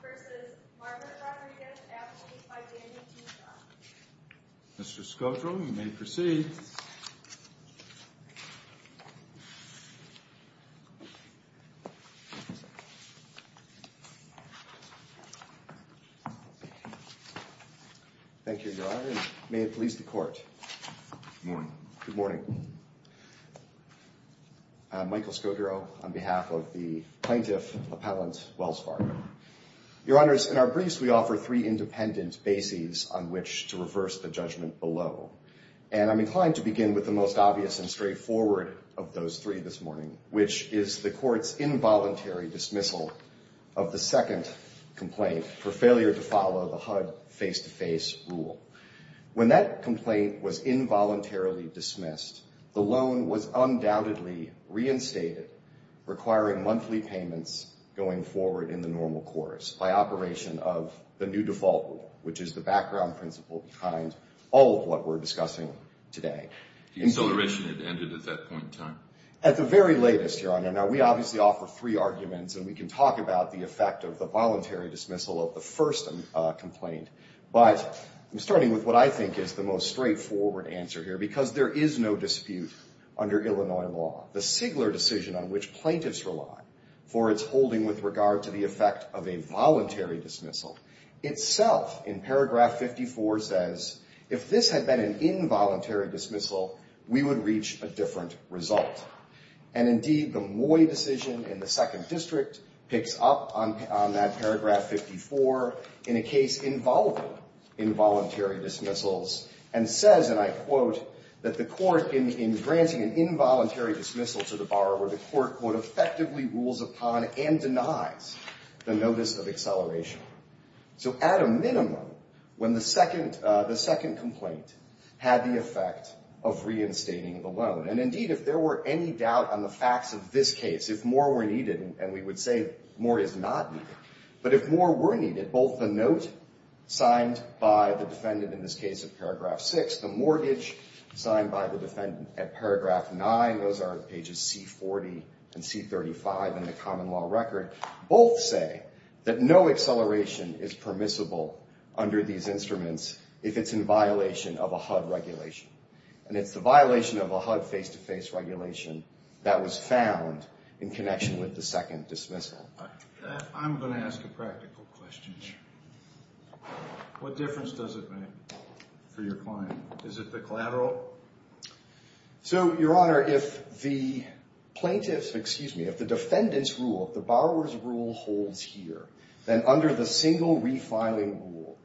vs. Margaret Rodriguez-Appleby v. Danny Tuchon. Mr. Scodro, you may proceed. Thank you, Your Honor, and may it please the Court. Good morning. Good morning. I'm Michael Scodro on behalf of the plaintiff, Appellant Wells Fargo. Your Honors, in our briefs we offer three independent bases on which to reverse the judgment below. And I'm inclined to begin with the most obvious and straightforward of those three this morning, which is the Court's involuntary dismissal of the second complaint for failure to follow the HUD face-to-face rule. When that complaint was involuntarily dismissed, the loan was undoubtedly reinstated, requiring monthly payments going forward in the normal course by operation of the new default rule, which is the background principle behind all of what we're discussing today. The acceleration had ended at that point in time. At the very latest, Your Honor. Now, we obviously offer three arguments, and we can talk about the effect of the voluntary dismissal of the first complaint. But I'm starting with what I think is the most straightforward answer here, because there is no dispute under Illinois law. The Sigler decision on which plaintiffs rely for its holding with regard to the effect of a voluntary dismissal, itself in paragraph 54 says, if this had been an involuntary dismissal, we would reach a different result. And indeed, the Moy decision in the second district picks up on that paragraph 54 in a case involving involuntary dismissals and says, and I quote, that the court, in granting an involuntary dismissal to the borrower, the court, quote, effectively rules upon and denies the notice of acceleration. So at a minimum, when the second complaint had the effect of reinstating the loan, and indeed, if there were any doubt on the facts of this case, if more were needed, and we would say more is not needed, but if more were needed, both the note signed by the defendant in this case of paragraph 6, the mortgage signed by the defendant at paragraph 9, those are pages C40 and C35 in the common law record, both say that no acceleration is permissible under these instruments if it's in violation of a HUD regulation. And it's the violation of a HUD face-to-face regulation that was found in connection with the second dismissal. I'm going to ask a practical question here. What difference does it make for your client? Is it the collateral? So, Your Honor, if the plaintiff's, excuse me, if the defendant's rule, the borrower's rule holds here, then under the single refiling rule,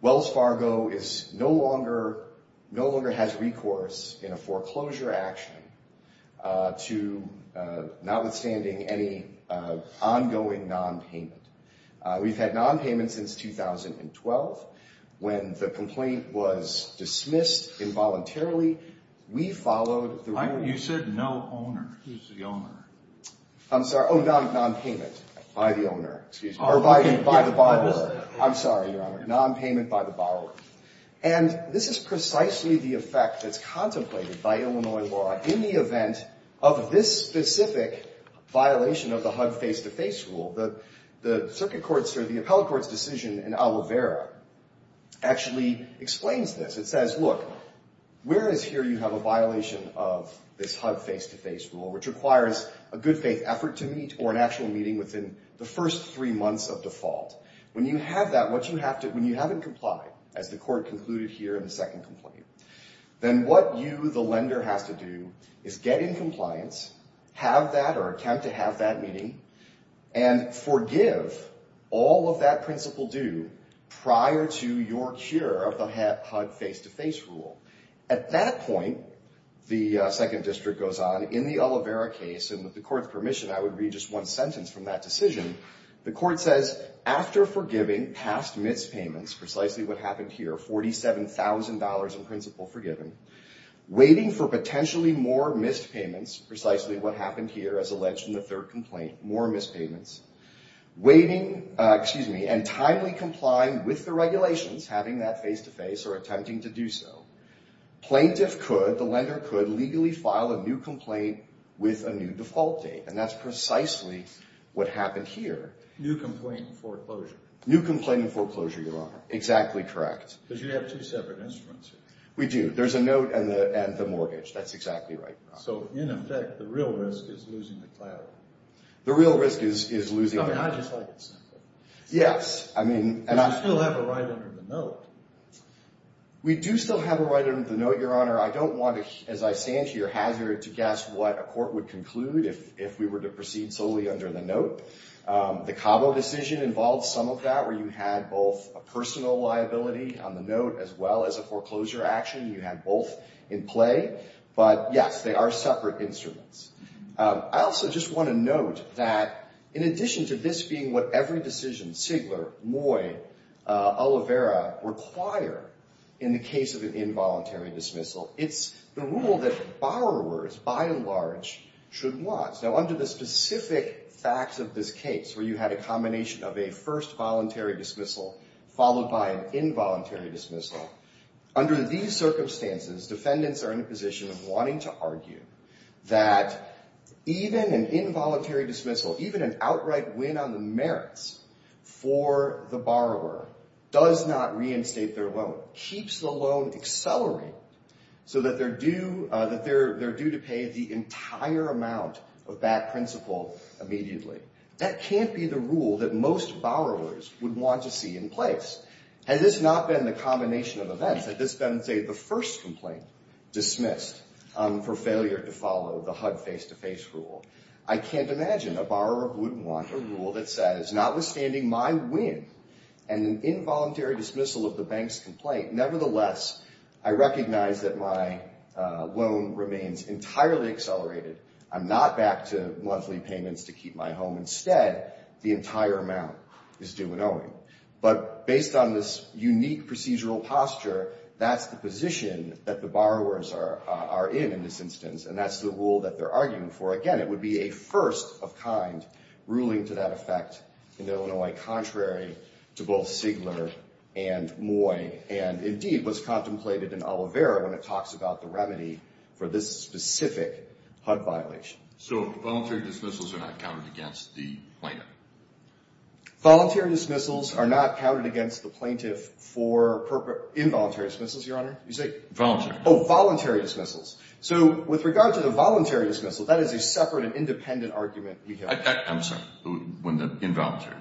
Wells Fargo is no longer, no longer has recourse in a foreclosure action to notwithstanding any ongoing nonpayment. We've had nonpayment since 2012. When the complaint was dismissed involuntarily, we followed the rule. You said no owner. Who's the owner? I'm sorry, oh, nonpayment by the owner. Excuse me. Or by the borrower. I'm sorry, Your Honor. Nonpayment by the borrower. And this is precisely the effect that's contemplated by Illinois law in the event of this specific violation of the HUD face-to-face rule. The circuit court's or the appellate court's decision in Alavera actually explains this. It says, look, whereas here you have a violation of this HUD face-to-face rule, which requires a good faith effort to meet or an actual meeting within the first three months of default. When you have that, when you haven't complied, as the court concluded here in the second complaint, then what you, the lender, has to do is get in compliance, have that or attempt to have that meeting, and forgive all of that principal due prior to your cure of the HUD face-to-face rule. At that point, the second district goes on in the Alavera case, and with the court's permission, I would read just one sentence from that decision. The court says, after forgiving past missed payments, precisely what happened here, $47,000 in principal forgiven, waiting for potentially more missed payments, precisely what happened here as alleged in the third complaint, more missed payments, waiting, excuse me, and timely complying with the regulations, having that face-to-face or attempting to do so, plaintiff could, the lender could, legally file a new complaint with a new default date, and that's precisely what happened here. New complaint in foreclosure. New complaint in foreclosure, Your Honor. Exactly correct. Because you have two separate instruments here. We do. There's a note and the mortgage. That's exactly right. So, in effect, the real risk is losing the clarity. The real risk is losing... I mean, I just like it simple. Yes, I mean... Because you still have a right under the note. We do still have a right under the note, Your Honor. I don't want to, as I stand here, hazard to guess what a court would conclude if we were to proceed solely under the note. The Cabo decision involved some of that, where you had both a personal liability on the note as well as a foreclosure action. You had both in play. But, yes, they are separate instruments. I also just want to note that, in addition to this being what every decision, Sigler, Moy, Oliveira, require in the case of an involuntary dismissal, it's the rule that borrowers, by and large, should watch. Now, under the specific facts of this case, where you had a combination of a first voluntary dismissal followed by an involuntary dismissal, under these circumstances, defendants are in a position of wanting to argue that even an involuntary dismissal, even an outright win on the merits for the borrower does not reinstate their loan, keeps the loan accelerating so that they're due to pay the entire amount of that principal immediately. That can't be the rule that most borrowers would want to see in place. Had this not been the combination of events, had this been, say, the first complaint dismissed for failure to follow the HUD face-to-face rule, I can't imagine a borrower wouldn't want a rule that says, notwithstanding my win and an involuntary dismissal of the bank's complaint, nevertheless, I recognize that my loan remains entirely accelerated. I'm not back to monthly payments to keep my home. Instead, the entire amount is due in owing. But based on this unique procedural posture, that's the position that the borrowers are in in this instance, and that's the rule that they're arguing for. Again, it would be a first of kind ruling to that effect in Illinois, contrary to both Sigler and Moy, and indeed was contemplated in Oliveira when it talks about the remedy for this specific HUD violation. So voluntary dismissals are not counted against the plaintiff? Voluntary dismissals are not counted against the plaintiff for involuntary dismissals, Your Honor. You say? Voluntary. Oh, voluntary dismissals. So with regard to the voluntary dismissal, that is a separate and independent argument we have. I'm sorry. Involuntary.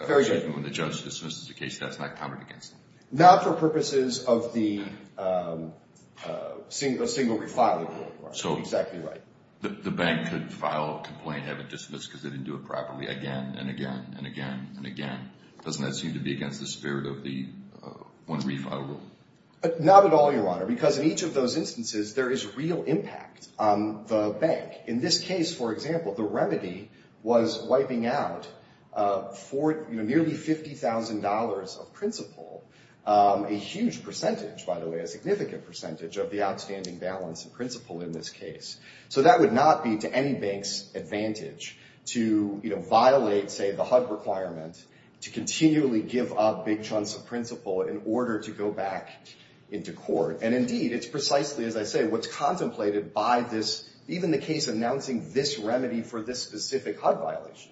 Oh, very good. When the judge dismisses the case, that's not counted against them? Not for purposes of the single refiling rule, Your Honor. Exactly right. So the bank could file a complaint, have it dismissed because they didn't do it properly again and again and again and again. Doesn't that seem to be against the spirit of the one refile rule? Not at all, Your Honor, because in each of those instances there is real impact on the bank. In this case, for example, the remedy was wiping out for nearly $50,000 of principal, a huge percentage, by the way, a significant percentage of the outstanding balance of principal in this case. So that would not be to any bank's advantage to violate, say, the HUD requirement to continually give up big chunks of principal in order to go back into court. And indeed, it's precisely, as I say, what's contemplated by this. Even the case announcing this remedy for this specific HUD violation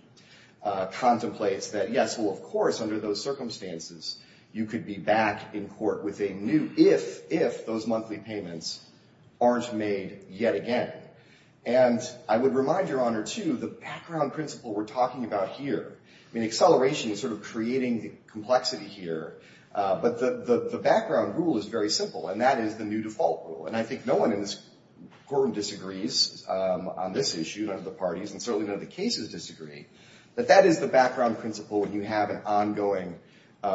contemplates that, yes, well, of course, under those circumstances, you could be back in court with a new if, if those monthly payments aren't made yet again. And I would remind Your Honor, too, the background principle we're talking about here, I mean, acceleration is sort of creating the complexity here, but the background rule is very simple, and that is the new default rule. And I think no one in this courtroom disagrees on this issue, none of the parties, and certainly none of the cases disagree, but that is the background principle when you have an ongoing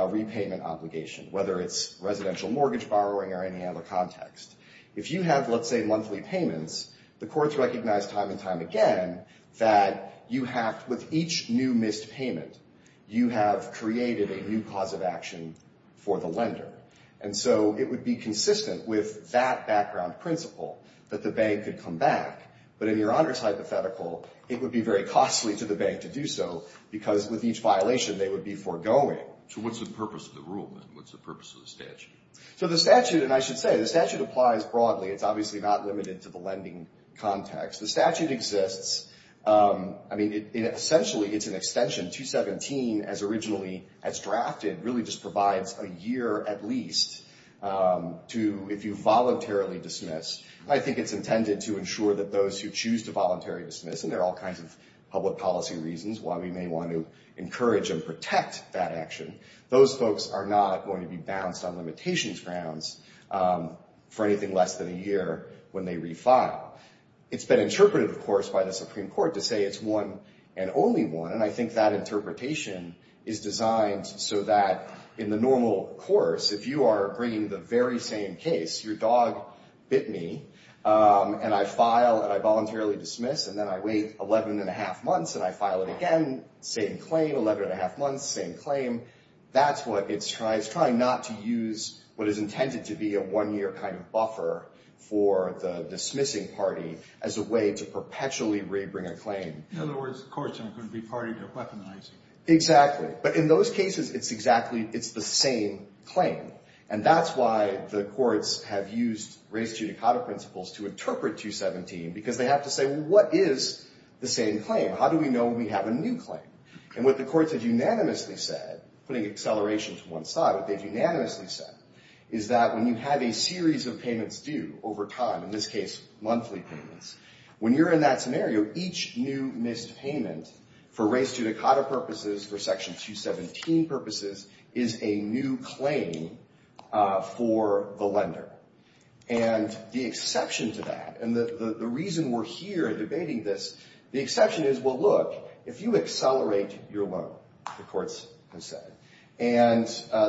repayment obligation, whether it's residential mortgage borrowing or any other context. If you have, let's say, monthly payments, the courts recognize time and time again that you have, with each new missed payment, you have created a new cause of action for the lender. And so it would be consistent with that background principle that the bank could come back, but in Your Honor's hypothetical, it would be very costly to the bank to do so, because with each violation, they would be foregoing. So what's the purpose of the rule, then? What's the purpose of the statute? So the statute, and I should say, the statute applies broadly. It's obviously not limited to the lending context. The statute exists. I mean, essentially, it's an extension. 217, as originally as drafted, really just provides a year at least to, if you voluntarily dismiss. I think it's intended to ensure that those who choose to voluntarily dismiss, and there are all kinds of public policy reasons why we may want to encourage and protect that action, those folks are not going to be bounced on limitations grounds for anything less than a year when they refile. It's been interpreted, of course, by the Supreme Court to say it's one and only one, and I think that interpretation is designed so that in the normal course, if you are bringing the very same case, your dog bit me, and I file, and I voluntarily dismiss, and then I wait 11 1⁄2 months, and I file it again, same claim, 11 1⁄2 months, same claim. That's what it's trying. It's trying not to use what is intended to be a one-year kind of buffer for the dismissing party as a way to perpetually rebring a claim. In other words, courts aren't going to be party to weaponizing. Exactly. But in those cases, it's exactly, it's the same claim, and that's why the courts have used res judicata principles to interpret 217, because they have to say, well, what is the same claim? How do we know we have a new claim? And what the courts have unanimously said, putting acceleration to one side, what they've unanimously said is that when you have a series of payments due over time, in this case, monthly payments, when you're in that scenario, each new missed payment for res judicata purposes, for Section 217 purposes, is a new claim for the lender. And the exception to that, and the reason we're here debating this, the exception is, well, look, if you accelerate your loan, the courts have said, and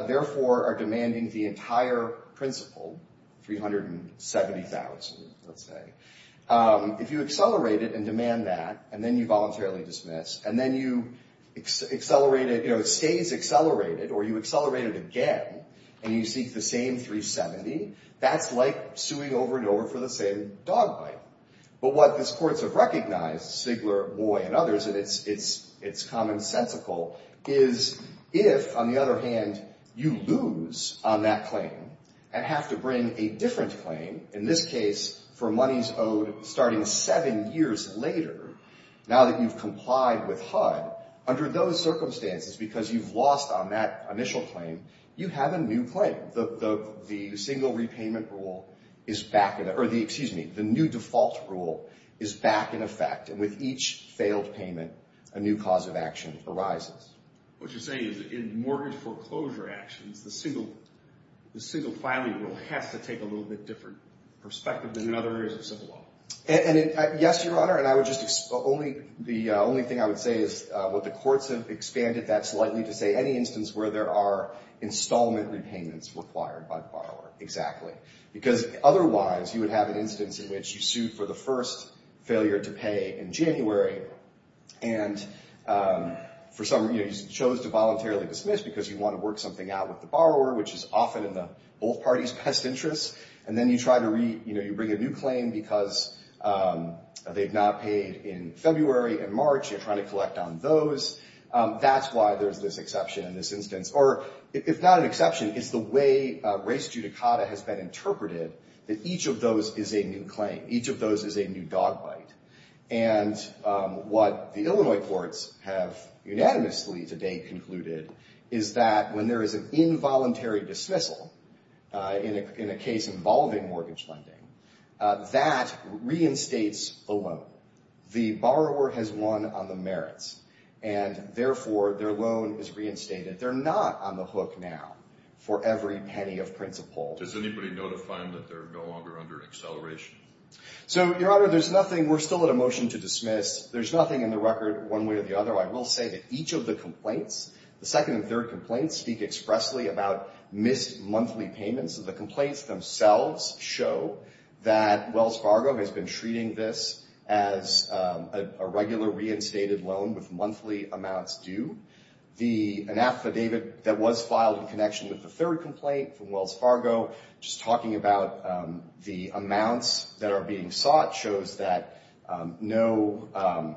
therefore are demanding the entire principle, 370,000, let's say, if you accelerate it and demand that, and then you voluntarily dismiss, and then you accelerate it, you know, it stays accelerated, or you accelerate it again, and you seek the same 370, that's like suing over and over for the same dog bite. But what these courts have recognized, Sigler, Moy, and others, and it's commonsensical, is if, on the other hand, you lose on that claim and have to bring a different claim, in this case, for monies owed starting seven years later, now that you've complied with HUD, under those circumstances, because you've lost on that initial claim, you have a new claim. The single repayment rule is back, or the, excuse me, the new default rule is back in effect, and with each failed payment, a new cause of action arises. What you're saying is in mortgage foreclosure actions, the single filing rule has to take a little bit different perspective than in other areas of civil law. Yes, Your Honor, and I would just, the only thing I would say is what the courts have expanded that slightly to say any instance where there are installment repayments required by the borrower, exactly. Because otherwise, you would have an instance in which you sued for the first failure to pay in January, and for some reason, you chose to voluntarily dismiss because you want to work something out with the borrower, which is often in both parties' best interests, and then you try to re, you know, you bring a new claim because they've not paid in February and March. You're trying to collect on those. That's why there's this exception in this instance, or if not an exception, it's the way race judicata has been interpreted, that each of those is a new claim. Each of those is a new dog bite. And what the Illinois courts have unanimously to date concluded is that when there is an involuntary dismissal, in a case involving mortgage lending, that reinstates the loan. The borrower has won on the merits, and therefore, their loan is reinstated. They're not on the hook now for every penny of principal. Does anybody know to find that they're no longer under acceleration? So, Your Honor, there's nothing. We're still at a motion to dismiss. There's nothing in the record one way or the other. I will say that each of the complaints, the second and third complaints, speak expressly about missed monthly payments. The complaints themselves show that Wells Fargo has been treating this as a regular reinstated loan with monthly amounts due. An affidavit that was filed in connection with the third complaint from Wells Fargo, just talking about the amounts that are being sought, shows that no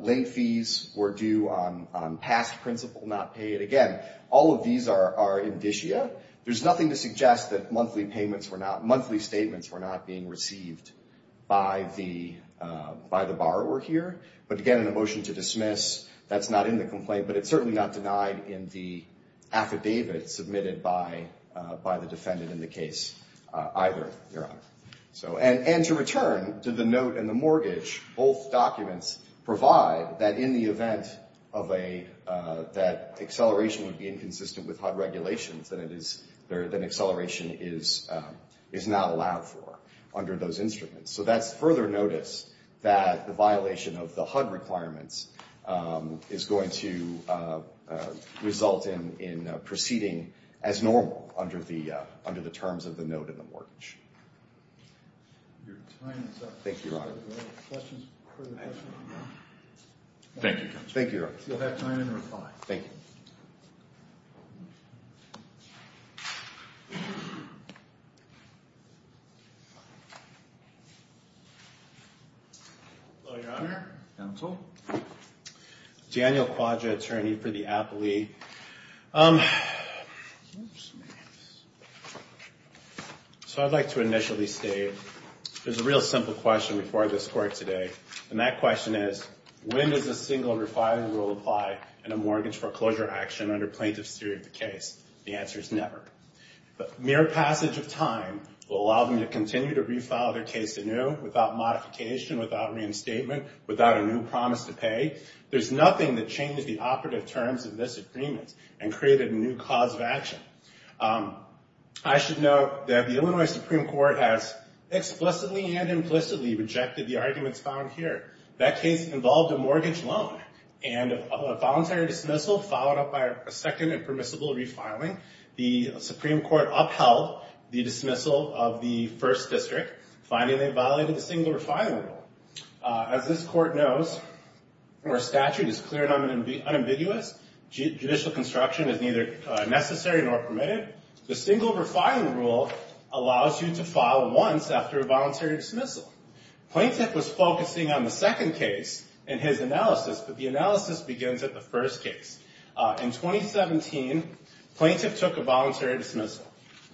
late fees were due on past principal not paid. Again, all of these are indicia. There's nothing to suggest that monthly statements were not being received by the borrower here. But, again, in a motion to dismiss, that's not in the complaint, but it's certainly not denied in the affidavit submitted by the defendant in the case either, Your Honor. And to return to the note and the mortgage, both documents provide that in the event that acceleration would be inconsistent with HUD regulations, that acceleration is not allowed for under those instruments. So that's further notice that the violation of the HUD requirements is going to result in proceeding as normal under the terms of the note and the mortgage. Your time is up. Thank you, Your Honor. Thank you. Thank you, Your Honor. You'll have time to reply. Thank you. Hello, Your Honor. Counsel. Daniel Quadra, attorney for the appellee. So I'd like to initially state, there's a real simple question before this court today, and that question is, when does a single refiling rule apply in a mortgage foreclosure action under plaintiff's theory of the case? The answer is never. Mere passage of time will allow them to continue to refile their case anew without modification, without reinstatement, without a new promise to pay. There's nothing that changed the operative terms of this agreement and created a new cause of action. I should note that the Illinois Supreme Court has explicitly and implicitly rejected the arguments found here. That case involved a mortgage loan and a voluntary dismissal followed up by a second and permissible refiling. The Supreme Court upheld the dismissal of the first district, finding they violated the single refiling rule. As this court knows, our statute is clear and unambiguous. Judicial construction is neither necessary nor permitted. The single refiling rule allows you to file once after a voluntary dismissal. Plaintiff was focusing on the second case in his analysis, but the analysis begins at the first case. In 2017, plaintiff took a voluntary dismissal.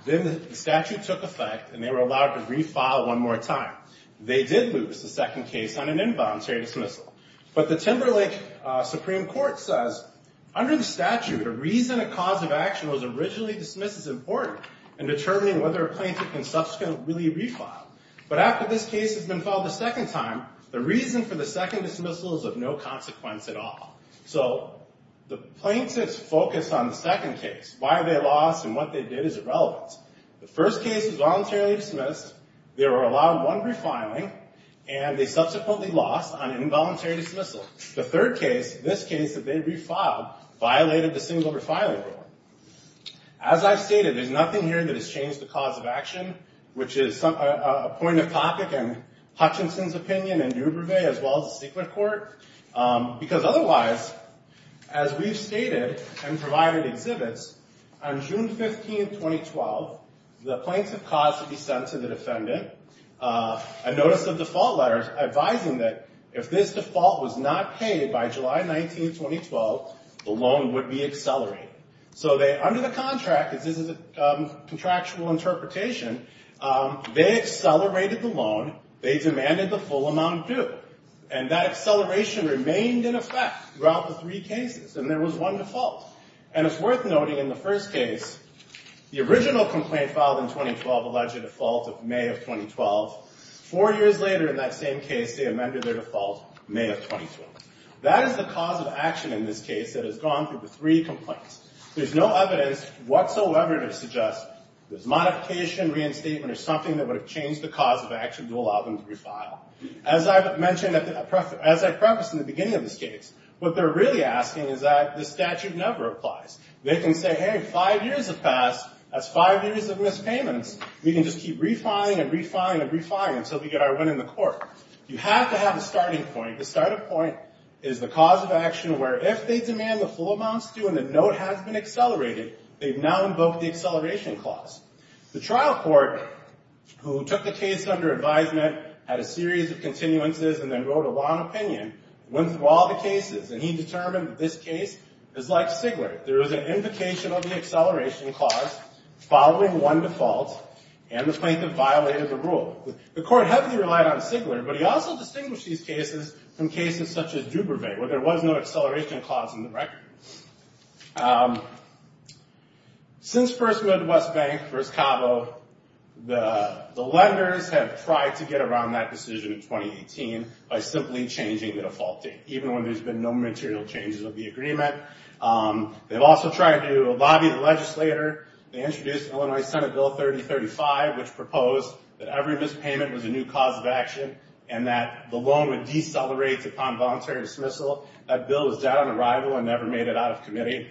Then the statute took effect and they were allowed to refile one more time. They did lose the second case on an involuntary dismissal. But the Timberlake Supreme Court says, under the statute, a reason a cause of action was originally dismissed is important in determining whether a plaintiff can subsequently refile. But after this case has been filed a second time, the reason for the second dismissal is of no consequence at all. So the plaintiffs focused on the second case, why they lost, and what they did is irrelevant. The first case was voluntarily dismissed. They were allowed one refiling, and they subsequently lost on involuntary dismissal. The third case, this case that they refiled, violated the single refiling rule. As I've stated, there's nothing here that has changed the cause of action, which is a point of topic in Hutchinson's opinion and Dubervet as well as the secret court. Because otherwise, as we've stated and provided exhibits, on June 15, 2012, the plaintiff caused to be sent to the defendant a notice of default letters advising that if this default was not paid by July 19, 2012, the loan would be accelerated. So under the contract, as this is a contractual interpretation, they accelerated the loan. They demanded the full amount due. And that acceleration remained in effect throughout the three cases, and there was one default. And it's worth noting in the first case, the original complaint filed in 2012 alleged a default of May of 2012. Four years later in that same case, they amended their default, May of 2012. That is the cause of action in this case that has gone through the three complaints. There's no evidence whatsoever to suggest there's modification, reinstatement, or something that would have changed the cause of action to allow them to refile. As I mentioned, as I prefaced in the beginning of this case, what they're really asking is that the statute never applies. They can say, hey, five years have passed. That's five years of missed payments. We can just keep refiling and refiling and refiling until we get our win in the court. You have to have a starting point. The starting point is the cause of action where if they demand the full amounts due and the note has been accelerated, they've now invoked the acceleration clause. The trial court, who took the case under advisement, had a series of continuances, and then wrote a long opinion, went through all the cases, and he determined that this case is like Sigler. There was an invocation of the acceleration clause following one default, and the plaintiff violated the rule. The court heavily relied on Sigler, but he also distinguished these cases from cases such as Dubervet where there was no acceleration clause in the record. Since First Midwest Bank, First Cabo, the lenders have tried to get around that decision in 2018 by simply changing the default date, even when there's been no material changes of the agreement. They've also tried to lobby the legislator. They introduced Illinois Senate Bill 3035, which proposed that every missed payment was a new cause of action and that the loan would decelerate upon voluntary dismissal. That bill was down on arrival and never made it out of committee.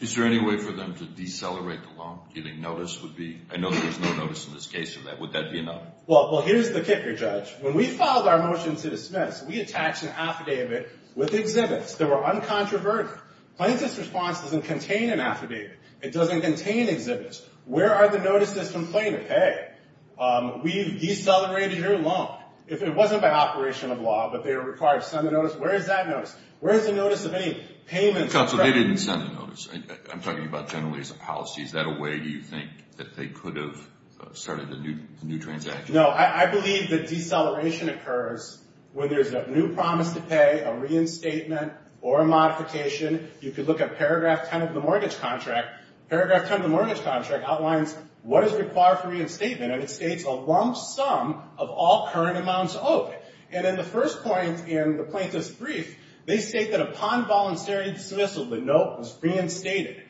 Is there any way for them to decelerate the loan? I know there's no notice in this case for that. Would that be enough? Well, here's the kicker, Judge. When we filed our motion to dismiss, we attached an affidavit with exhibits that were uncontroverted. Plaintiff's response doesn't contain an affidavit. It doesn't contain exhibits. Where are the notices from plaintiff? Hey, we've decelerated your loan. If it wasn't by operation of law, but they were required to send a notice, where is that notice? Where is the notice of any payments? Counsel, they didn't send a notice. I'm talking about generally as a policy. Is that a way, do you think, that they could have started a new transaction? No, I believe that deceleration occurs when there's a new promise to pay, a reinstatement, or a modification. You could look at paragraph 10 of the mortgage contract. Paragraph 10 of the mortgage contract outlines what is required for reinstatement. And it states a lump sum of all current amounts owed. And in the first point in the plaintiff's brief, they state that upon voluntary dismissal, the note was reinstated.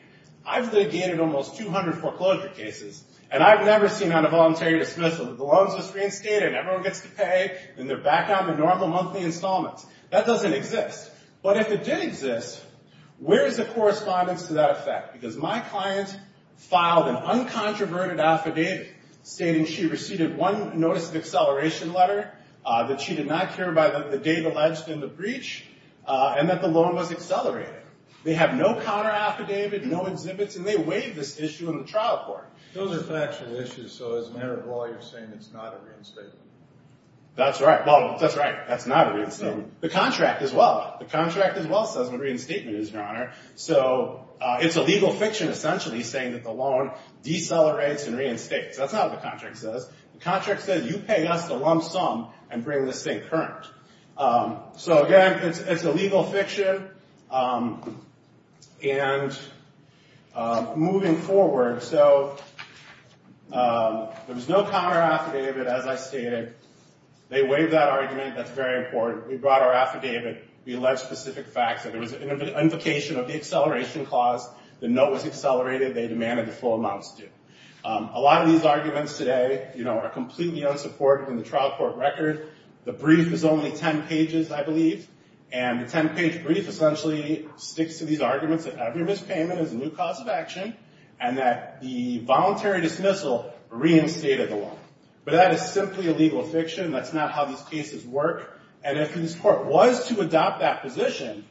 I've litigated almost 200 foreclosure cases, and I've never seen on a voluntary dismissal that the loans was reinstated, and everyone gets to pay, and they're back on to normal monthly installments. That doesn't exist. But if it did exist, where is the correspondence to that effect? Because my client filed an uncontroverted affidavit stating she received one notice of acceleration letter, that she did not care about the date alleged in the breach, and that the loan was accelerated. They have no counter affidavit, no exhibits, and they waive this issue in the trial court. Those are factual issues. So as a matter of law, you're saying it's not a reinstatement? That's right. Well, that's right. That's not a reinstatement. The contract as well. The contract as well says it's a reinstatement, Your Honor. So it's a legal fiction essentially saying that the loan decelerates and reinstates. That's not what the contract says. The contract says you pay us the lump sum and bring this thing current. So again, it's a legal fiction. And moving forward, so there was no counter affidavit, as I stated. They waive that argument. That's very important. We brought our affidavit. We allege specific facts. There was an invocation of the acceleration clause. The note was accelerated. They demanded the full amounts due. A lot of these arguments today are completely unsupported in the trial court record. The brief is only 10 pages, I believe. And the 10-page brief essentially sticks to these arguments that every mispayment is a new cause of action and that the voluntary dismissal reinstated the loan. But that is simply a legal fiction. That's not how these cases work. And if this court was to adopt that position,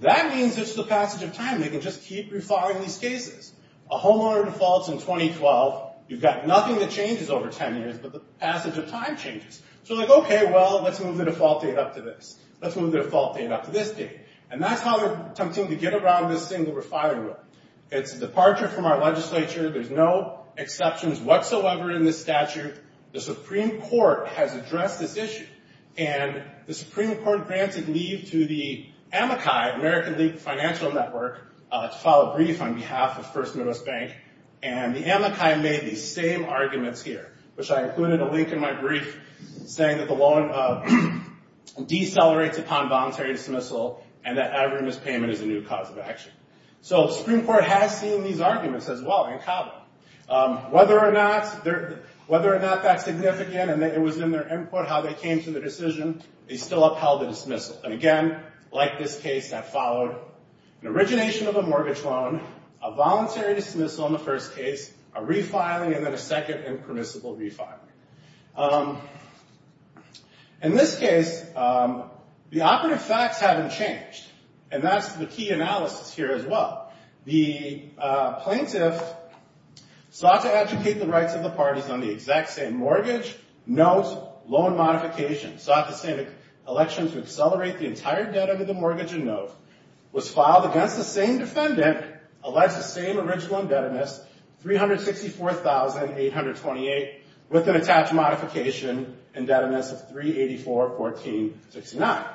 that means it's the passage of time. They can just keep refiling these cases. A homeowner defaults in 2012. You've got nothing that changes over 10 years, but the passage of time changes. So they're like, okay, well, let's move the default date up to this. Let's move the default date up to this date. And that's how they're attempting to get around this single refiling rule. It's a departure from our legislature. There's no exceptions whatsoever in this statute. The Supreme Court has addressed this issue. And the Supreme Court granted leave to the AMACI, American League Financial Network, to file a brief on behalf of First Midwest Bank. And the AMACI made these same arguments here, which I included a link in my brief saying that the loan decelerates upon voluntary dismissal and that every mispayment is a new cause of action. So the Supreme Court has seen these arguments as well in Cabo. Whether or not that's significant and it was in their input how they came to the decision, they still upheld the dismissal. And again, like this case, that followed an origination of a mortgage loan, a voluntary dismissal in the first case, a refiling, and then a second impermissible refiling. In this case, the operative facts haven't changed. And that's the key analysis here as well. The plaintiff sought to educate the rights of the parties on the exact same mortgage, note, loan modification. Sought the same election to accelerate the entire debt under the mortgage and note. Was filed against the same defendant. Alleged the same original indebtedness, $364,828, with an attached modification indebtedness of $384,469.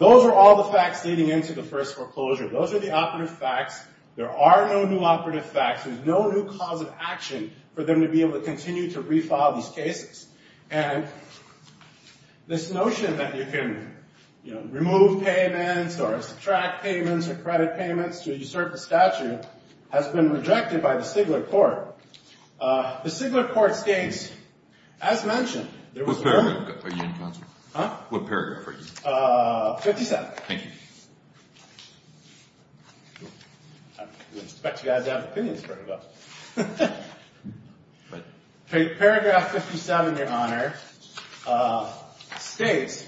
Those are all the facts leading into the first foreclosure. Those are the operative facts. There are no new operative facts. There's no new cause of action for them to be able to continue to refile these cases. And this notion that you can remove payments or subtract payments or credit payments to usurp the statute has been rejected by the Stigler Court. The Stigler Court states, as mentioned, there was a... What paragraph are you in, counsel? Huh? What paragraph are you in? 57. Thank you. I didn't expect you guys to have opinions for it, though. But paragraph 57, Your Honor, states,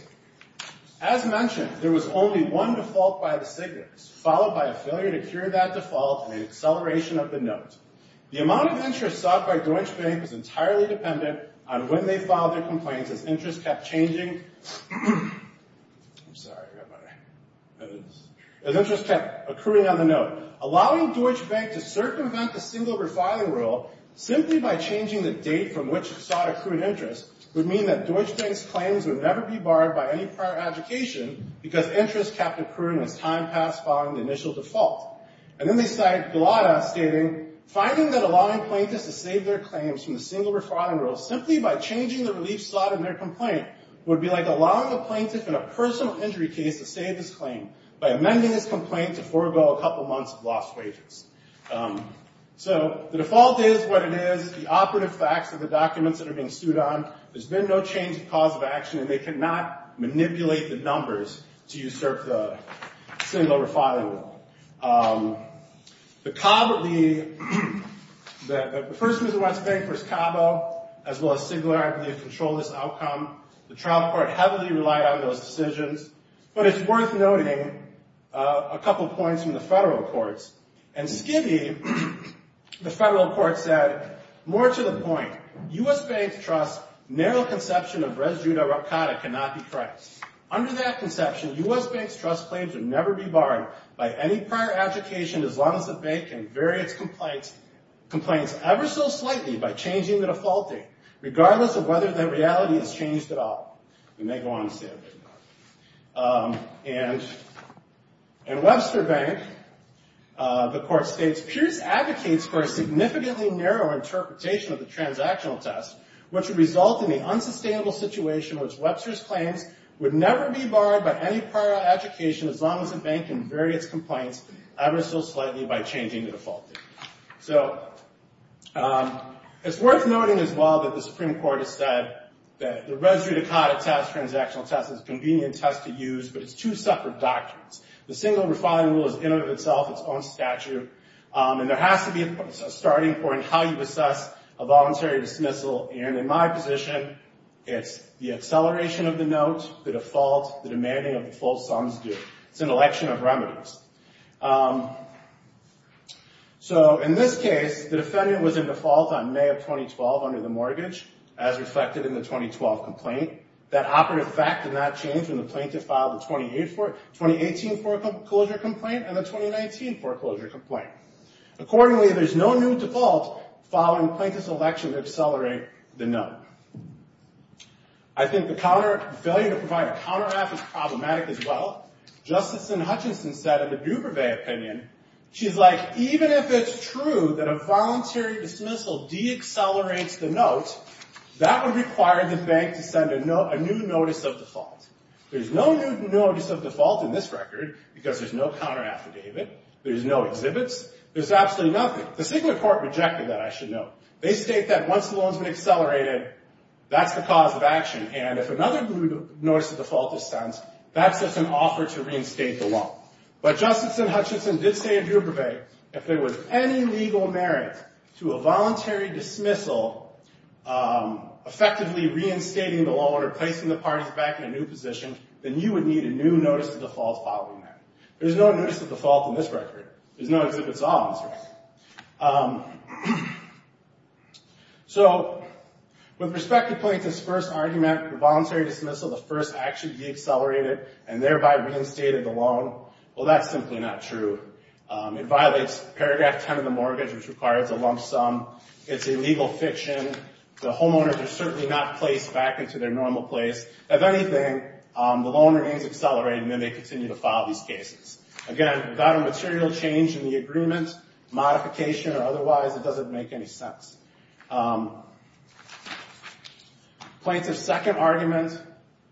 as mentioned, there was only one default by the Stiglers, followed by a failure to cure that default and an acceleration of the note. The amount of interest sought by Deutsche Bank was entirely dependent on when they filed their complaints as interest kept changing... I'm sorry, everybody. As interest kept accruing on the note, allowing Deutsche Bank to circumvent the single refiling rule simply by changing the date from which it sought accrued interest would mean that Deutsche Bank's claims would never be borrowed by any prior advocation because interest kept accruing as time passed following the initial default. And then they cite Gulotta stating, finding that allowing plaintiffs to save their claims from the single refiling rule simply by changing the relief slot in their complaint would be like allowing a plaintiff in a personal injury case to save his claim by amending his complaint to forego a couple months of lost wages. So the default is what it is. The operative facts of the documents that are being sued on, there's been no change in cause of action, and they cannot manipulate the numbers to usurp the single refiling rule. The first Mr. Westbank, first Cabo, as well as Stigler, I believe, control this outcome. The trial court heavily relied on those decisions. But it's worth noting a couple points from the federal courts. And Skidney, the federal court, said, more to the point, U.S. Bank's trust's narrow conception of res judo rep cata cannot be correct. Under that conception, U.S. Bank's trust claims would never be borrowed by any prior advocation as long as the bank can vary its complaints ever so slightly by changing the default date, regardless of whether that reality is changed at all. We may go on to say a bit more. And Webster Bank, the court states, Pierce advocates for a significantly narrow interpretation of the transactional test, which would result in the unsustainable situation which Webster's claims would never be borrowed by any prior advocation as long as the bank can vary its complaints ever so slightly by changing the default date. So it's worth noting as well that the Supreme Court has said that the res judo cata test, transactional test, is a convenient test to use, but it's two separate doctrines. The single refining rule is in and of itself its own statute. And there has to be a starting point how you assess a voluntary dismissal. And in my position, it's the acceleration of the note, the default, the demanding of the full sums due. It's an election of remedies. So in this case, the defendant was in default on May of 2012 under the mortgage, as reflected in the 2012 complaint. That operative fact did not change when the plaintiff filed the 2018 foreclosure complaint and the 2019 foreclosure complaint. Accordingly, there's no new default following plaintiff's election to accelerate the note. I think the failure to provide a counteract is problematic as well. Justice Hutchinson said in the Dubervet opinion, she's like, even if it's true that a voluntary dismissal deaccelerates the note, that would require the bank to send a new notice of default. There's no new notice of default in this record because there's no counter affidavit. There's no exhibits. There's absolutely nothing. The Supreme Court rejected that, I should note. They state that once the loan's been accelerated, that's the cause of action. And if another notice of default is sent, that sets an offer to reinstate the loan. But Justice Hutchinson did say in Dubervet, if there was any legal merit to a voluntary dismissal effectively reinstating the loan or replacing the parties back in a new position, then you would need a new notice of default following that. There's no notice of default in this record. There's no exhibits at all in this record. So with respect to Plaintiff's first argument for voluntary dismissal, the first action deaccelerated and thereby reinstated the loan, well, that's simply not true. It violates paragraph 10 of the mortgage, which requires a lump sum. It's illegal fiction. The homeowners are certainly not placed back into their normal place. If anything, the loan remains accelerated, and then they continue to file these cases. Again, without a material change in the agreement, modification or otherwise, it doesn't make any sense. Plaintiff's second argument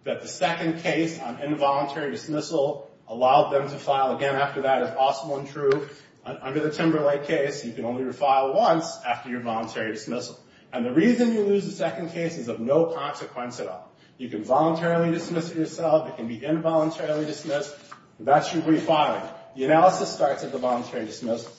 that the second case on involuntary dismissal allowed them to file again after that is also untrue. Under the Timberlake case, you can only refile once after your voluntary dismissal. And the reason you lose the second case is of no consequence at all. You can voluntarily dismiss it yourself. It can be involuntarily dismissed. That's your refiling. The analysis starts at the voluntary dismissal.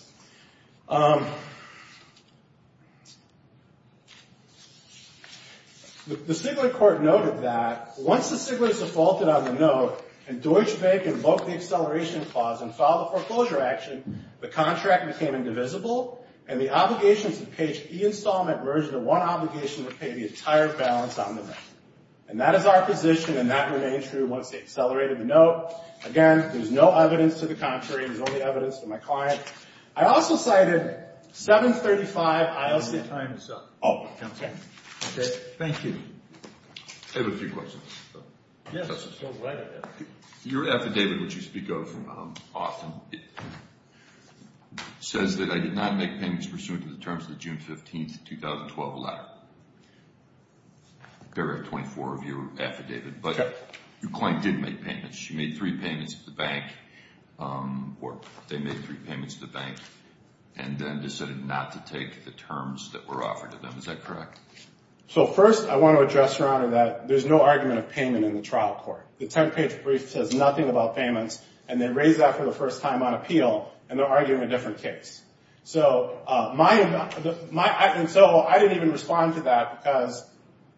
The Stigler court noted that once the Stiglers defaulted on the note and Deutsche Bank invoked the acceleration clause and filed a foreclosure action, the contract became indivisible, and the obligations of page E installment merged into one obligation to pay the entire balance on the note. And that is our position, and that remains true once they accelerated the note. Again, there's no evidence to the contrary. There's only evidence to my client. I also cited 735, ILC. Time is up. Oh, okay. Okay, thank you. I have a few questions. Yes, go right ahead. Your affidavit, which you speak of often, says that I did not make payments pursuant to the terms of the June 15, 2012 letter. There are 24 of you affidavit, but your client did make payments. She made three payments to the bank, or they made three payments to the bank and then decided not to take the terms that were offered to them. Is that correct? So first I want to address, Your Honor, that there's no argument of payment in the trial court. The 10th page brief says nothing about payments, and they raise that for the first time on appeal, and they're arguing a different case. So I didn't even respond to that because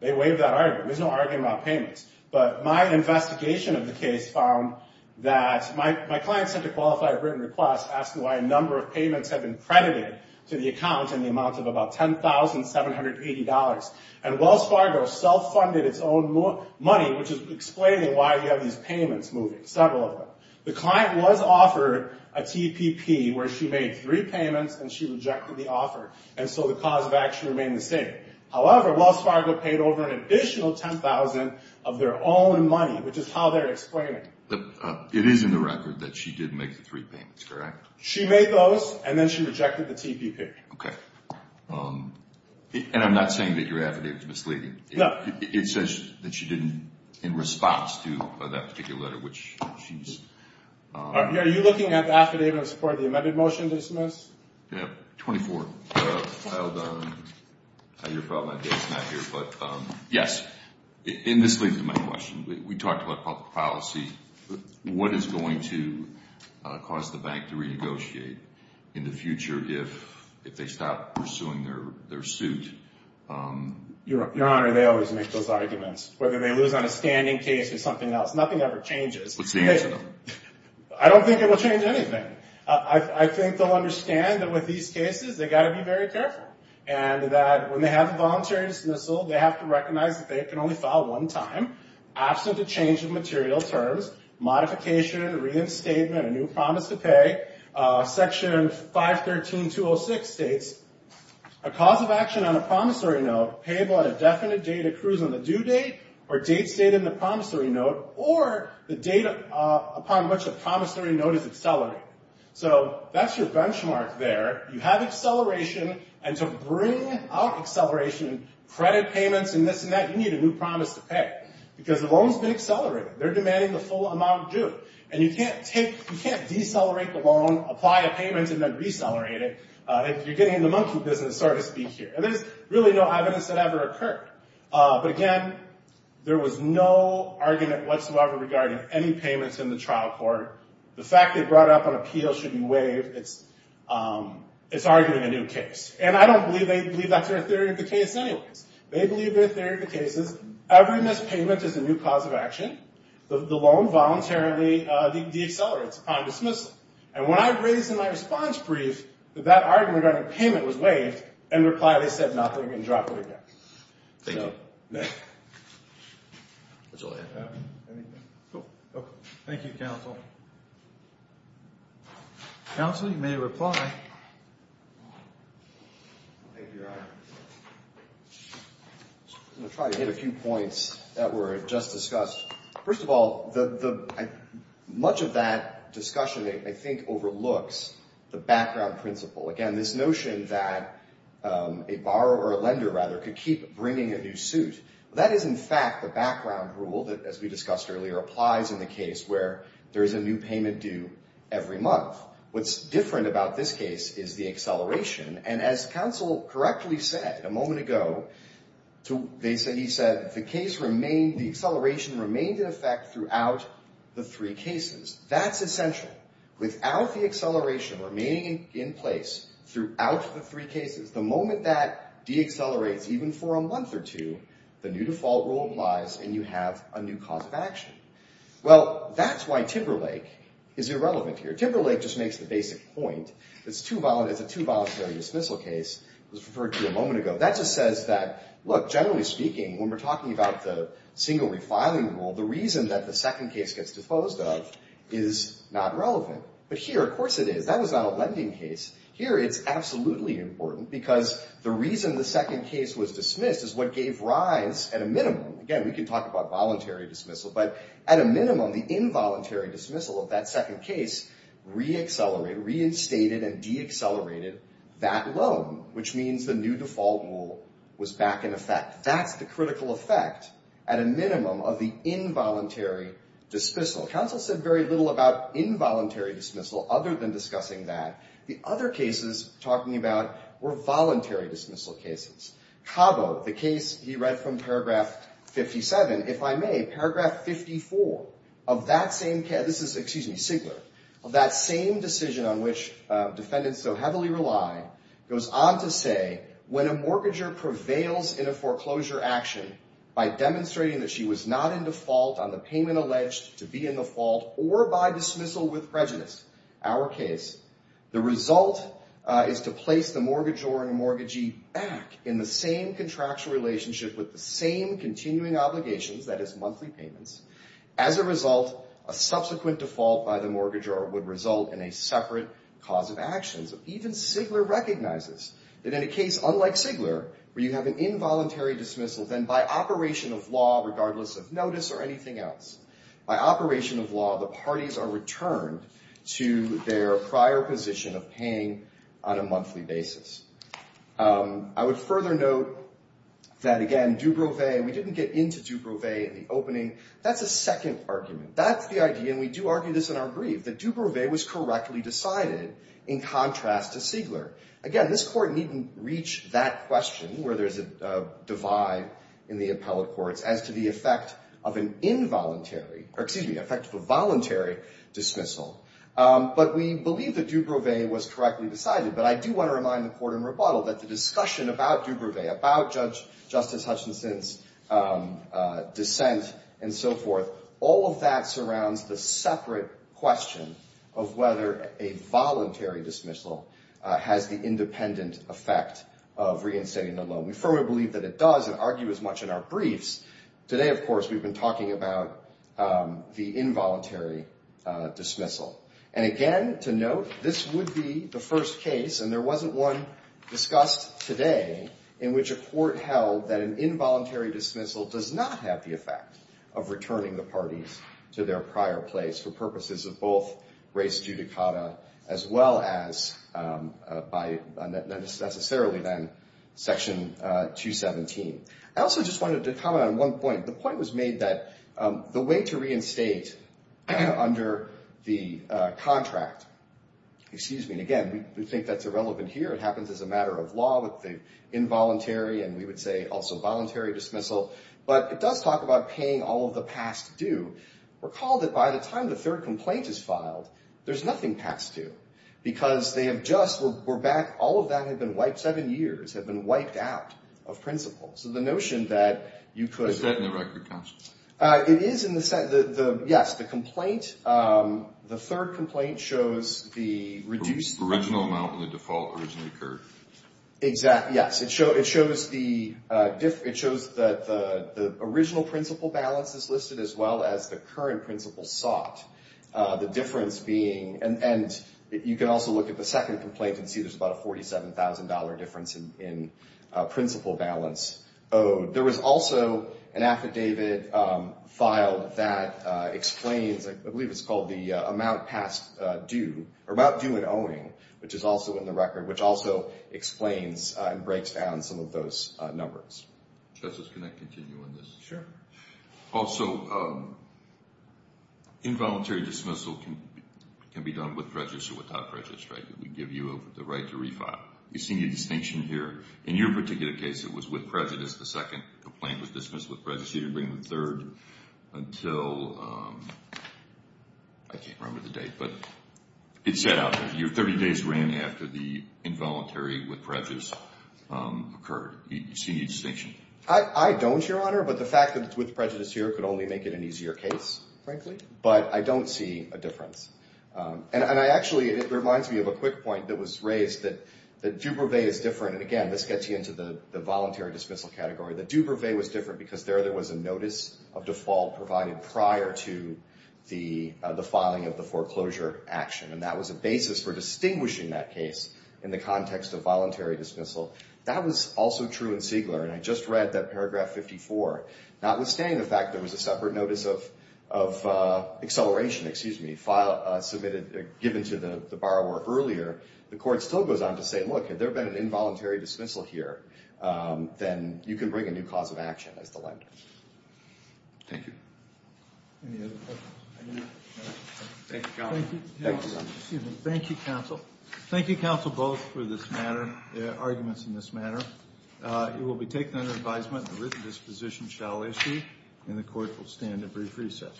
they waived that argument. There's no argument about payments. But my investigation of the case found that my client sent a qualified written request asking why a number of payments had been credited to the account in the amount of about $10,780. And Wells Fargo self-funded its own money, which is explaining why you have these payments moving, several of them. The client was offered a TPP where she made three payments and she rejected the offer, and so the cause of action remained the same. However, Wells Fargo paid over an additional $10,000 of their own money, which is how they're explaining. It is in the record that she did make the three payments, correct? She made those, and then she rejected the TPP. Okay. And I'm not saying that your affidavit is misleading. No. It says that she didn't, in response to that particular letter, which she's... Are you looking at the affidavit in support of the amended motion to dismiss? Yeah. 24. Your problem, I guess, is not here. But, yes, in this leads to my question. We talked about public policy. What is going to cause the bank to renegotiate in the future if they stop pursuing their suit? Your Honor, they always make those arguments. Whether they lose on a standing case or something else, nothing ever changes. What's the answer, though? I don't think it will change anything. I think they'll understand that with these cases, they've got to be very careful, and that when they have a voluntary dismissal, they have to recognize that they can only file one time, absent a change of material terms, modification, reinstatement, a new promise to pay. Section 513.206 states, a cause of action on a promissory note paid on a definite date accrues on the or the date upon which a promissory note is accelerated. So that's your benchmark there. You have acceleration, and to bring out acceleration, credit payments and this and that, you need a new promise to pay. Because the loan's been accelerated. They're demanding the full amount due. And you can't decelerate the loan, apply a payment, and then decelerate it. You're getting in the monkey business, so to speak, here. And there's really no evidence that ever occurred. But, again, there was no argument whatsoever regarding any payments in the trial court. The fact they brought up an appeal should be waived. It's arguing a new case. And I don't believe they believe that's their theory of the case anyways. They believe their theory of the case is every missed payment is a new cause of action. The loan voluntarily decelerates upon dismissal. And when I raised in my response brief that that argument regarding payment was waived, in reply they said nothing and dropped it again. Thank you. Thank you, Counsel. Counsel, you may reply. Thank you, Your Honor. I'm going to try to hit a few points that were just discussed. First of all, much of that discussion, I think, overlooks the background principle. Again, this notion that a borrower or a lender, rather, could keep bringing a new suit. That is, in fact, the background rule that, as we discussed earlier, applies in the case where there is a new payment due every month. What's different about this case is the acceleration. And as Counsel correctly said a moment ago, he said the case remained, the acceleration remained in effect throughout the three cases. That's essential. Without the acceleration remaining in place throughout the three cases, the moment that deaccelerates, even for a month or two, the new default rule applies and you have a new cause of action. Well, that's why Timberlake is irrelevant here. Timberlake just makes the basic point. It's a two-voluntary dismissal case. It was referred to a moment ago. That just says that, look, generally speaking, when we're talking about the single refiling rule, the reason that the second case gets disposed of is not relevant. But here, of course it is. That was not a lending case. Here it's absolutely important because the reason the second case was dismissed is what gave rise, at a minimum, again, we can talk about voluntary dismissal, but at a minimum, the involuntary dismissal of that second case reaccelerated, reinstated and deaccelerated that loan, which means the new default rule was back in effect. That's the critical effect, at a minimum, of the involuntary dismissal. Counsel said very little about involuntary dismissal other than discussing that. The other cases talking about were voluntary dismissal cases. Cabo, the case he read from paragraph 57, if I may, paragraph 54 of that same case, this is, excuse me, Sigler, of that same decision on which defendants so heavily rely, goes on to say, when a mortgager prevails in a foreclosure action by demonstrating that she was not in default on the payment alleged to be in default or by dismissal with prejudice, our case, the result is to place the mortgagor and the mortgagee back in the same contractual relationship with the same continuing obligations, that is monthly payments. As a result, a subsequent default by the mortgagor would result in a separate cause of actions. So even Sigler recognizes that in a case unlike Sigler where you have an involuntary dismissal, then by operation of law, regardless of notice or anything else, by operation of law, the parties are returned to their prior position of paying on a monthly basis. I would further note that, again, Dubrovay, we didn't get into Dubrovay in the opening. That's a second argument. That's the idea, and we do argue this in our brief, that Dubrovay was correctly decided in contrast to Sigler. Again, this Court needn't reach that question where there's a divide in the appellate courts as to the effect of an involuntary or, excuse me, effect of a voluntary dismissal. But we believe that Dubrovay was correctly decided. But I do want to remind the Court in rebuttal that the discussion about Dubrovay, about Justice Hutchinson's dissent and so forth, all of that surrounds the separate question of whether a voluntary dismissal has the independent effect of reinstating the loan. We firmly believe that it does and argue as much in our briefs. Today, of course, we've been talking about the involuntary dismissal. And again, to note, this would be the first case, and there wasn't one discussed today in which a court held that an involuntary dismissal does not have the effect of returning the parties to their prior place for purposes of both res judicata as well as by necessarily then Section 217. I also just wanted to comment on one point. The point was made that the way to reinstate under the contract, excuse me, and again, we think that's irrelevant here. It happens as a matter of law with the involuntary and we would say also voluntary dismissal. But it does talk about paying all of the past due. Recall that by the time the third complaint is filed, there's nothing past due because they have just, we're back, all of that had been wiped, seven years had been wiped out of principle. So the notion that you could… It's set in the record, counsel. It is in the, yes, the complaint. The third complaint shows the reduced… Original amount in the default originally occurred. Exactly, yes. It shows the original principle balance is listed as well as the current principle sought. The difference being, and you can also look at the second complaint and see there's about a $47,000 difference in principle balance owed. There was also an affidavit filed that explains, I believe it's called the amount past due, or about due and owning, which is also in the record, which also explains and breaks down some of those numbers. Justice, can I continue on this? Sure. Also, involuntary dismissal can be done with prejudice or without prejudice, right? We give you the right to refile. We've seen a distinction here. In your particular case, it was with prejudice. The second complaint was dismissed with prejudice. You didn't bring the third until, I can't remember the date, but it set out. Your 30 days ran after the involuntary with prejudice occurred. Do you see a distinction? I don't, Your Honor, but the fact that it's with prejudice here could only make it an easier case, frankly. But I don't see a difference. And I actually, it reminds me of a quick point that was raised that jubilee is different. And, again, let's get you into the voluntary dismissal category. The due brevet was different because there there was a notice of default provided prior to the filing of the foreclosure action. And that was a basis for distinguishing that case in the context of voluntary dismissal. That was also true in Siegler. And I just read that Paragraph 54. Notwithstanding the fact there was a separate notice of acceleration submitted, given to the borrower earlier, the court still goes on to say, look, if there had been an involuntary dismissal here, then you can bring a new cause of action as the lender. Thank you. Any other questions? Thank you, counsel. Thank you, counsel, both, for this matter, arguments in this matter. It will be taken under advisement that this position shall issue, and the court will stand at brief recess.